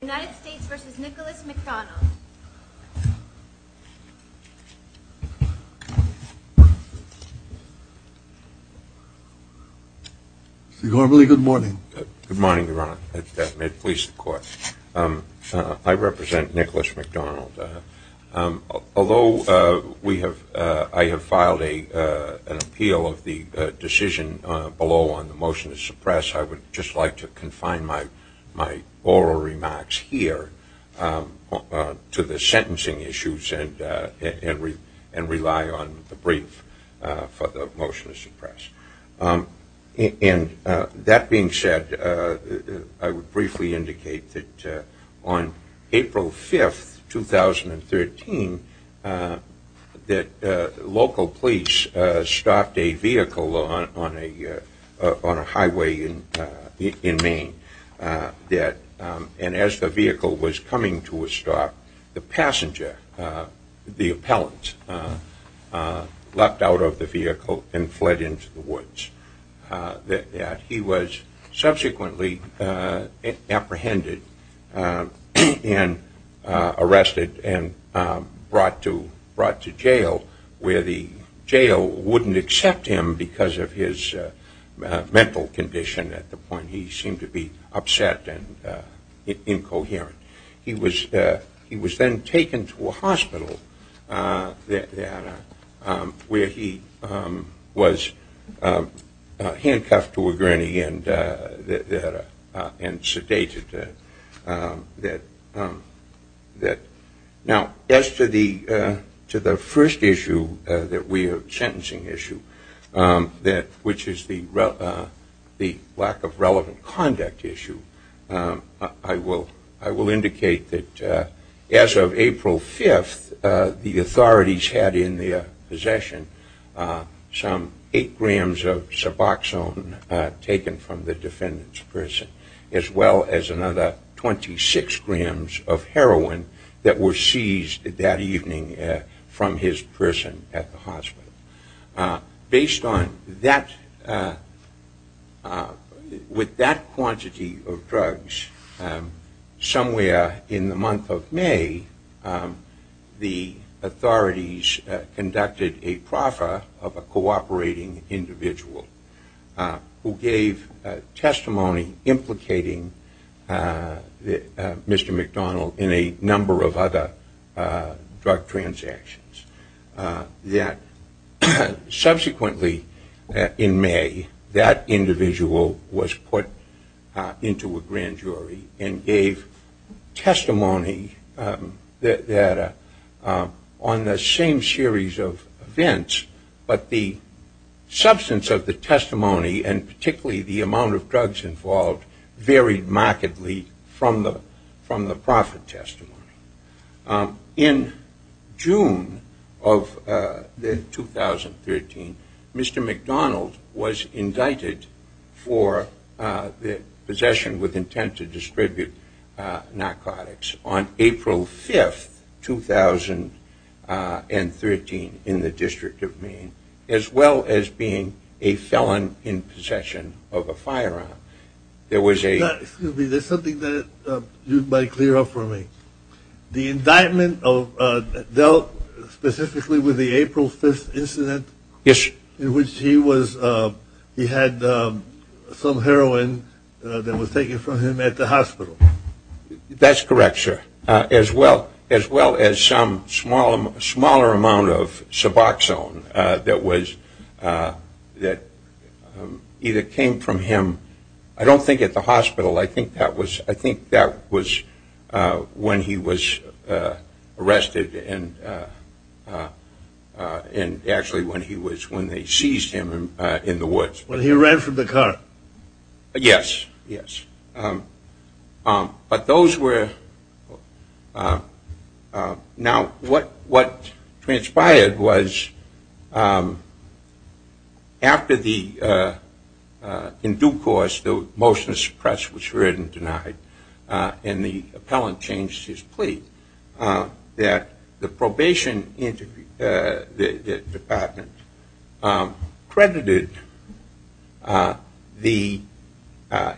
Good morning, Your Honor, and may it please the Court. I represent Nicholas McDonald. Although I have filed an appeal of the decision below on the motion to suppress, I would just like to confine my oral remarks here to the sentencing issues and rely on the brief for the motion to suppress. That being said, I would briefly indicate that on April 5, 2013, that local police stopped a vehicle on a highway in Maine, and as the vehicle was coming to a stop, the passenger, the appellant, leapt out of the vehicle and fled into the woods. He was subsequently apprehended and arrested and brought to jail, where the jail wouldn't accept him because of his mental condition at the point he seemed to be upset and incoherent. He was then taken to a hospital where he was handcuffed to a gurney and sedated. Now, as to the first issue that we I will indicate that as of April 5, the authorities had in their possession some 8 grams of Suboxone taken from the defendant's of heroin that were seized that evening from his prison at the hospital. Based on that, with that quantity of drugs, somewhere in the month of May, the authorities conducted a proffer of a cooperating individual who gave testimony implicating Mr. McDonald in a number of other drug on the same series of events, but the substance of the testimony, and particularly the amount of drugs involved, varied markedly from the profit testimony. In June of 2013, Mr. McDonald was indicted for the possession with intent to distribute narcotics on April 5, 2013, in the The indictment dealt specifically with the April 5 incident? Yes. In which he had some heroin that was taken from him at the hospital? That's correct, sir. As well as some smaller amount of Suboxone that either came from him, I don't think at the hospital, I think that was when he was arrested and actually when they seized him in the woods. When he ran from the car? Yes, yes. But those were, now what transpired was after the, in due course, the motion to suppress was heard and denied, and the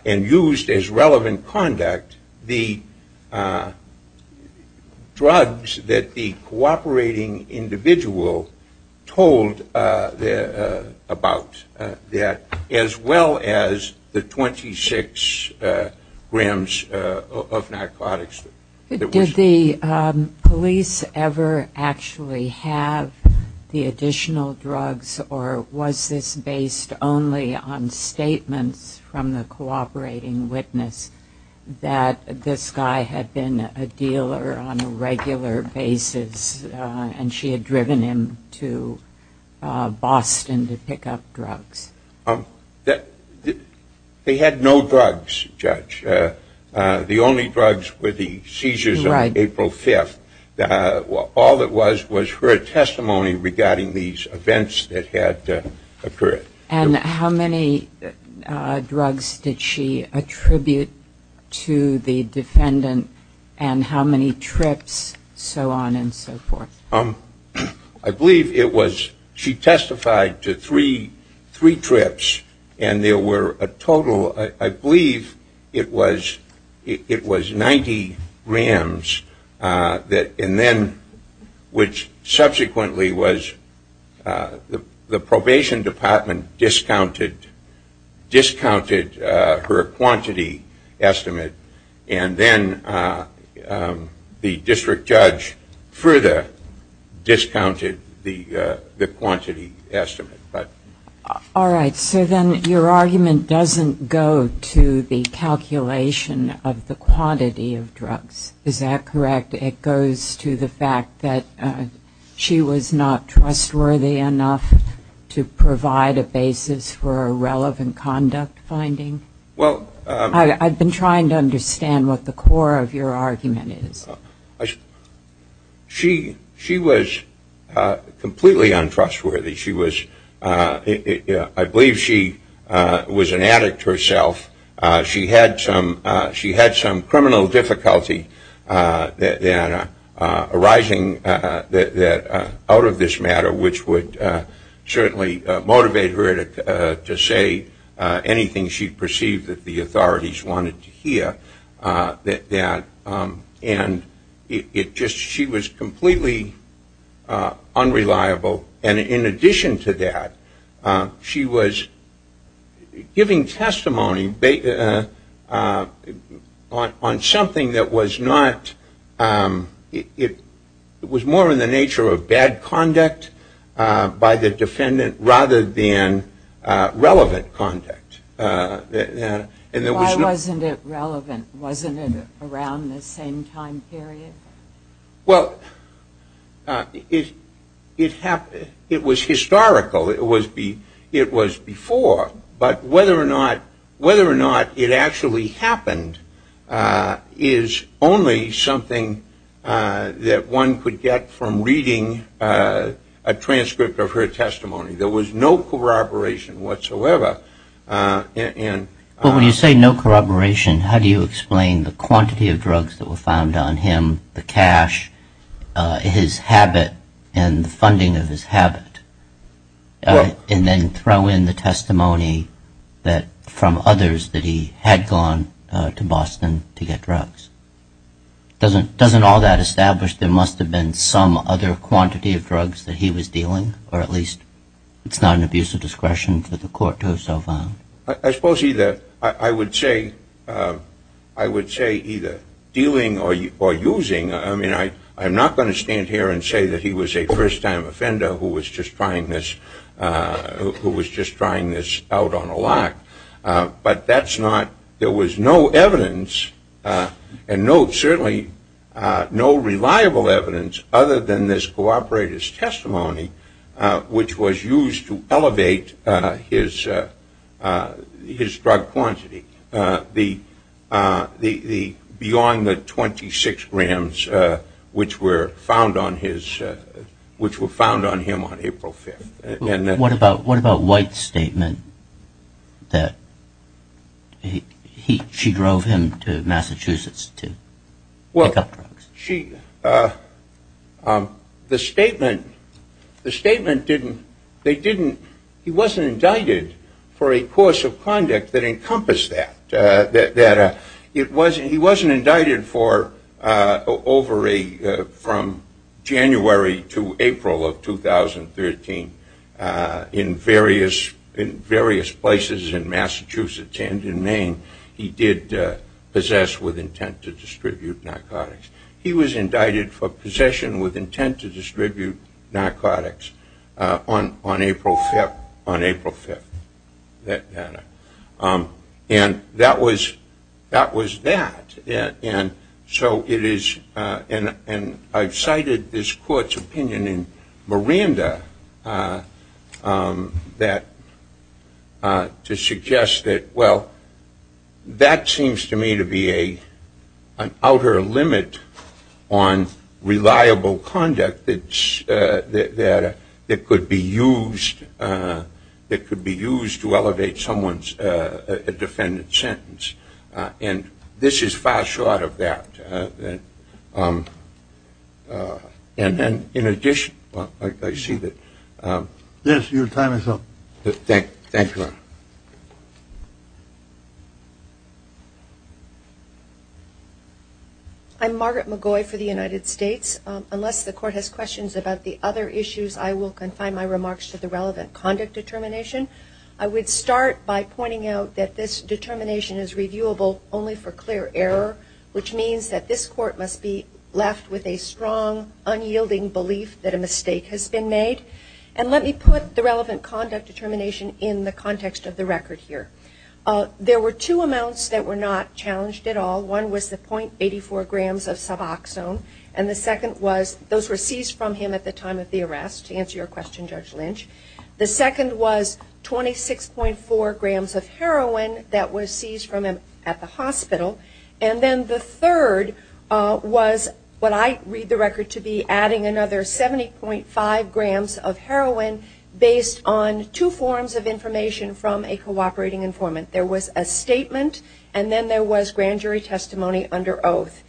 and used as relevant conduct, the drugs that the cooperating individual told about that, as well as the 26 grams of narcotics. Did the police ever actually have the additional drugs, or was this based only on the statements from the cooperating witness that this guy had been a dealer on a regular basis and she had driven him to Boston to pick up drugs? They had no drugs, judge. The only drugs were the seizures on April 5. All that was was her testimony regarding these events that had occurred. And how many drugs did she attribute to the defendant, and how many trips, so on and so forth? I believe it was, she testified to three trips, and there were a total, I believe it was 90 grams, and then, which subsequently was, the probation department discounted her quantity estimate, and then the district judge further discounted the quantity estimate. All right, so then your argument doesn't go to the calculation of the quantity of drugs, is that correct? It goes to the fact that she was not trustworthy enough to provide a basis for a relevant conduct finding? Well, I've been trying to understand what the core of your argument is. She was completely untrustworthy. I believe she was an addict herself. She had some criminal difficulty arising out of this matter, which would certainly motivate her to say anything she perceived that the authorities wanted to hear. And she was completely unreliable. And in addition to that, she was giving testimony on something that was not, it was more in the nature of bad conduct by the defendant rather than relevant conduct. Why wasn't it relevant? Wasn't it around the same time period? Well, it was historical. It was before. But whether or not it actually happened is only something that one could get from reading a transcript of her testimony. There was no corroboration whatsoever. But when you say no corroboration, how do you explain the quantity of drugs that were found on him, the cash, his habit, and the funding of his habit, and then throw in the testimony from others that he had gone to Boston to get drugs? Doesn't all that establish there must have been some other quantity of drugs that he was dealing, or at least it's not an abuse of discretion for the court to have so found? I suppose either. I would say either dealing or using. I mean, I'm not going to stand here and say that he was a first-time offender who was just trying this out on a lot. But that's not, there was no evidence, and certainly no reliable evidence other than this cooperator's testimony, which was used to elevate his drug quantity beyond the 26 grams which were found on him on April 5th. What about White's statement that she drove him to Massachusetts to pick up drugs? The statement didn't, he wasn't indicted for a course of conduct that encompassed that. He wasn't indicted for over a, from January to April of 2013 in various places in Massachusetts and in Maine, he did possess with intent to distribute narcotics. He was indicted for possession with intent to distribute narcotics on April 5th. And that was, that was that. And so it is, and I've cited this court's opinion in Miranda that, to suggest that, well, that seems to me to be an outer limit on reliable conduct that could be used, that could be used to elevate someone's defendant's sentence. And this is far short of that. And then, in addition, I see that. Yes, your time is up. Thank you. I'm Margaret McGoy for the United States. Unless the court has questions about the other issues, I will confine my remarks to the relevant conduct determination. I would start by pointing out that this determination is reviewable only for clear error, which means that this court must be left with a strong, unyielding belief that a mistake has been made. And let me put the relevant conduct determination in the context of the record here. There were two amounts that were not challenged at all. One was the .84 grams of Suboxone, and the second was, those were seized from him at the time of the arrest, to answer your question, Judge Lynch. The second was 26.4 grams of heroin that was seized from him at the hospital. And then the third was what I read the record to be adding another 70.5 grams of heroin based on two forms of information from a cooperating informant. There was a statement, and then there was grand jury testimony under oath.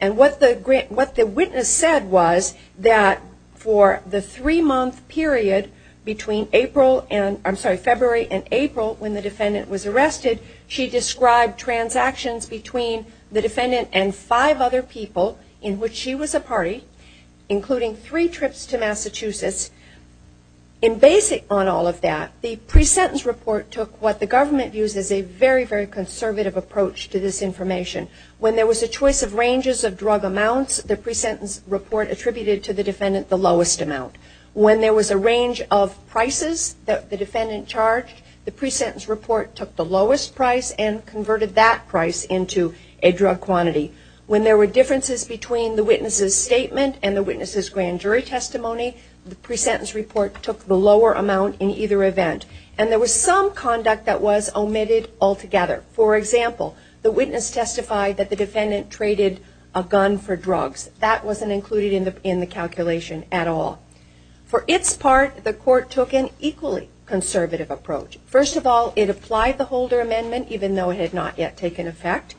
And what the witness said was that for the three-month period between April and, I'm sorry, February and April when the defendant was arrested, she described transactions between the defendant and five other people in which she was a party, including three trips to Massachusetts. And based on all of that, the pre-sentence report took what the government views as a very, very conservative approach to this information. When there was a choice of ranges of drug amounts, the pre-sentence report attributed to the defendant the lowest amount. When there was a range of prices that the defendant charged, the pre-sentence report took the lowest price and converted that price into a drug quantity. When there were differences between the witness's statement and the witness's grand jury testimony, the pre-sentence report took the lower amount in either event. And there was some conduct that was omitted altogether. For example, the witness testified that the defendant traded a gun for drugs. That wasn't included in the calculation at all. For its part, the court took an equally conservative approach. First of all, it applied the Holder Amendment, even though it had not yet taken effect.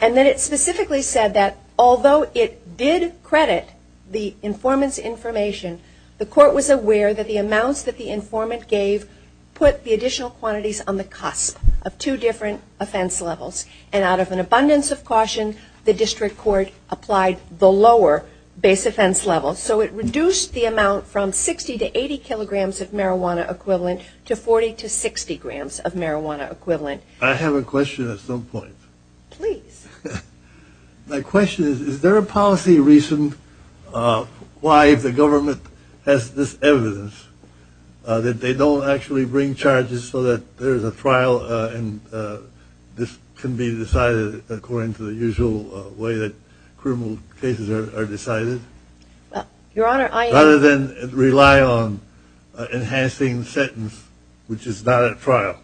And then it specifically said that although it did credit the informant's information, the court was aware that the amounts that the informant gave put the additional quantities on the cusp of two different offense levels. And out of an abundance of caution, the district court applied the lower base offense level. So it reduced the amount from 60 to 80 kilograms of marijuana equivalent to 40 to 60 grams of marijuana equivalent. I have a question at some point. My question is, is there a policy reason why if the government has this evidence, that they don't actually bring charges so that there is a trial and this can be decided according to the usual way that criminal cases are decided? Rather than rely on enhancing the sentence, which is not at trial.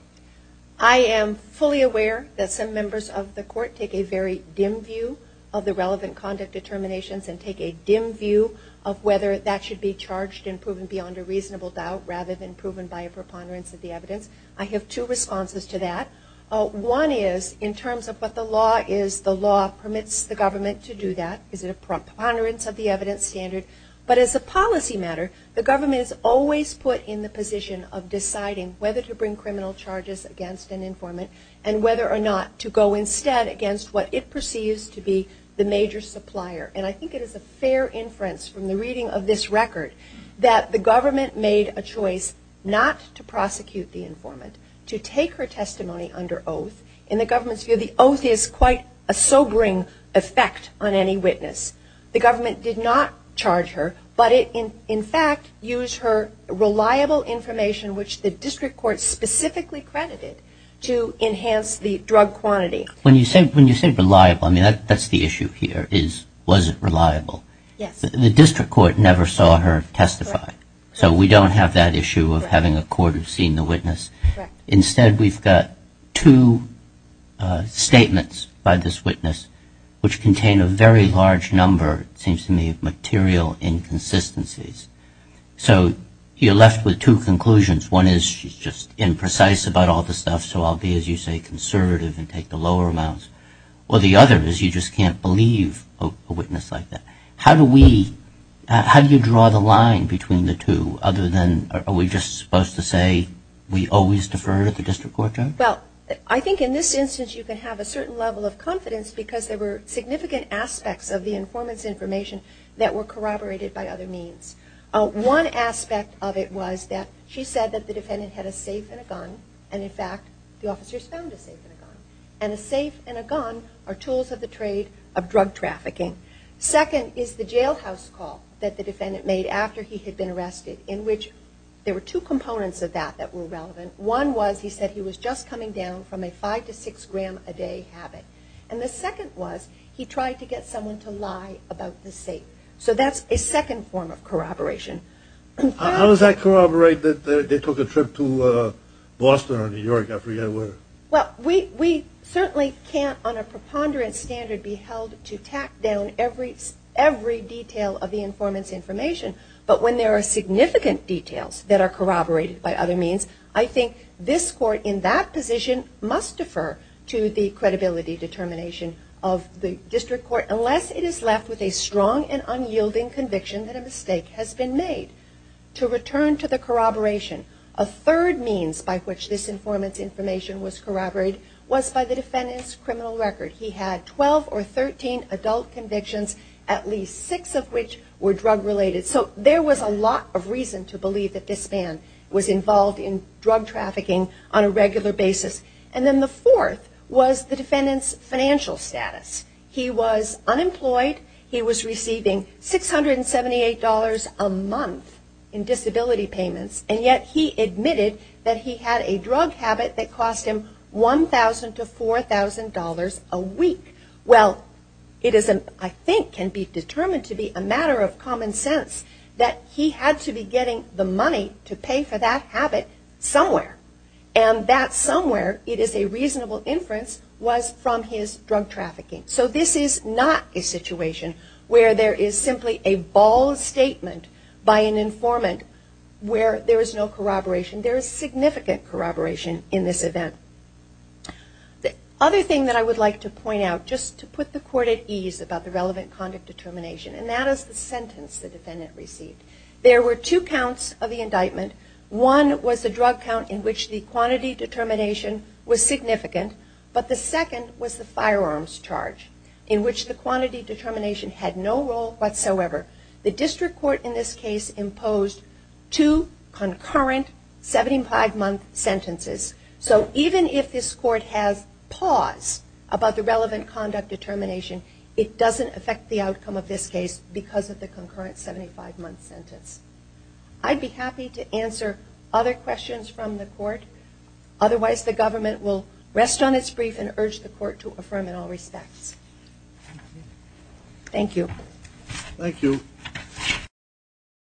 I am fully aware that some members of the court take a very dim view of the relevant conduct determinations. And take a dim view of whether that should be charged and proven beyond a reasonable doubt rather than proven by a preponderance of the evidence. I have two responses to that. One is in terms of what the law is, the law permits the government to do that. Is it a preponderance of the evidence standard? But as a policy matter, the government is always put in the position of deciding whether to bring criminal charges against an informant and whether or not to go instead against what it perceives to be the major supplier. And I think it is a fair inference from the reading of this record that the government made a choice not to prosecute the informant, to take her testimony under oath. In the government's view, the oath is quite a sobering effect on any witness. The government did not charge her, but in fact used her reliable information, which the district court specifically credited, to enhance the drug quantity. When you say reliable, that is the issue here. Was it reliable? The district court never saw her testify, so we don't have that issue of having a court have seen the witness. Instead, we've got two statements by this witness which contain a very large number, it seems to me, of material inconsistencies. So you're left with two conclusions. One is she's just imprecise about all the stuff, so I'll be, as you say, conservative and take the lower amounts. Or the other is you just can't believe a witness like that. How do you draw the line between the two, other than are we just supposed to say we always defer to the district court judge? Well, I think in this instance you can have a certain level of confidence because there were significant aspects of the informant's information that were corroborated by other means. One aspect of it was that she said that the defendant had a safe and a gun, and in fact the officers found a safe and a gun. And a safe and a gun are tools of the trade of drug trafficking. Second is the jailhouse call that the defendant made after he had been arrested, in which there were two components of that that were relevant. One was he said he was just coming down from a five to six gram a day habit. And the second was he tried to get someone to lie about the safe. So that's a second form of corroboration. How does that corroborate that they took a trip to Boston or New York? Well, we certainly can't on a preponderance standard be held to tack down every detail of the informant's information, but when there are significant details that are corroborated by other means, I think this court in that position must defer to the credibility determination of the district court unless it is left with a strong and unyielding conviction that a mistake has been made. To return to the corroboration, a third means by which this informant's information was corroborated was by the defendant's criminal record. He had 12 or 13 adult convictions, at least six of which were drug related. So there was a lot of reason to believe that this man was involved in drug trafficking on a regular basis. And then the fourth was the defendant's financial status. He was unemployed, he was receiving $678 a month in disability payments, and yet he admitted that he had a drug habit that cost him $1,000 to $4,000 a week. Well, it is, I think, can be determined to be a matter of common sense that he had to be getting the money to pay for that habit somewhere. And that somewhere, it is a reasonable inference, was from his drug trafficking. So this is not a situation where there is simply a bald statement by an informant where there is no corroboration. There is significant corroboration in this event. The other thing that I would like to point out, just to put the court at ease about the relevant conduct determination, and that is the sentence the defendant received. There were two counts of the indictment. One was the drug count in which the quantity determination was significant, but the second was the firearms charge, in which the quantity determination had no role whatsoever. The district court in this case imposed two concurrent 75-month sentences. So even if the defendant had not committed a crime, the district court had no role whatsoever. Even if this court has pause about the relevant conduct determination, it doesn't affect the outcome of this case because of the concurrent 75-month sentence. I'd be happy to answer other questions from the court. Otherwise, the government will rest on its brief and urge the court to affirm in all respects. Thank you. Thank you.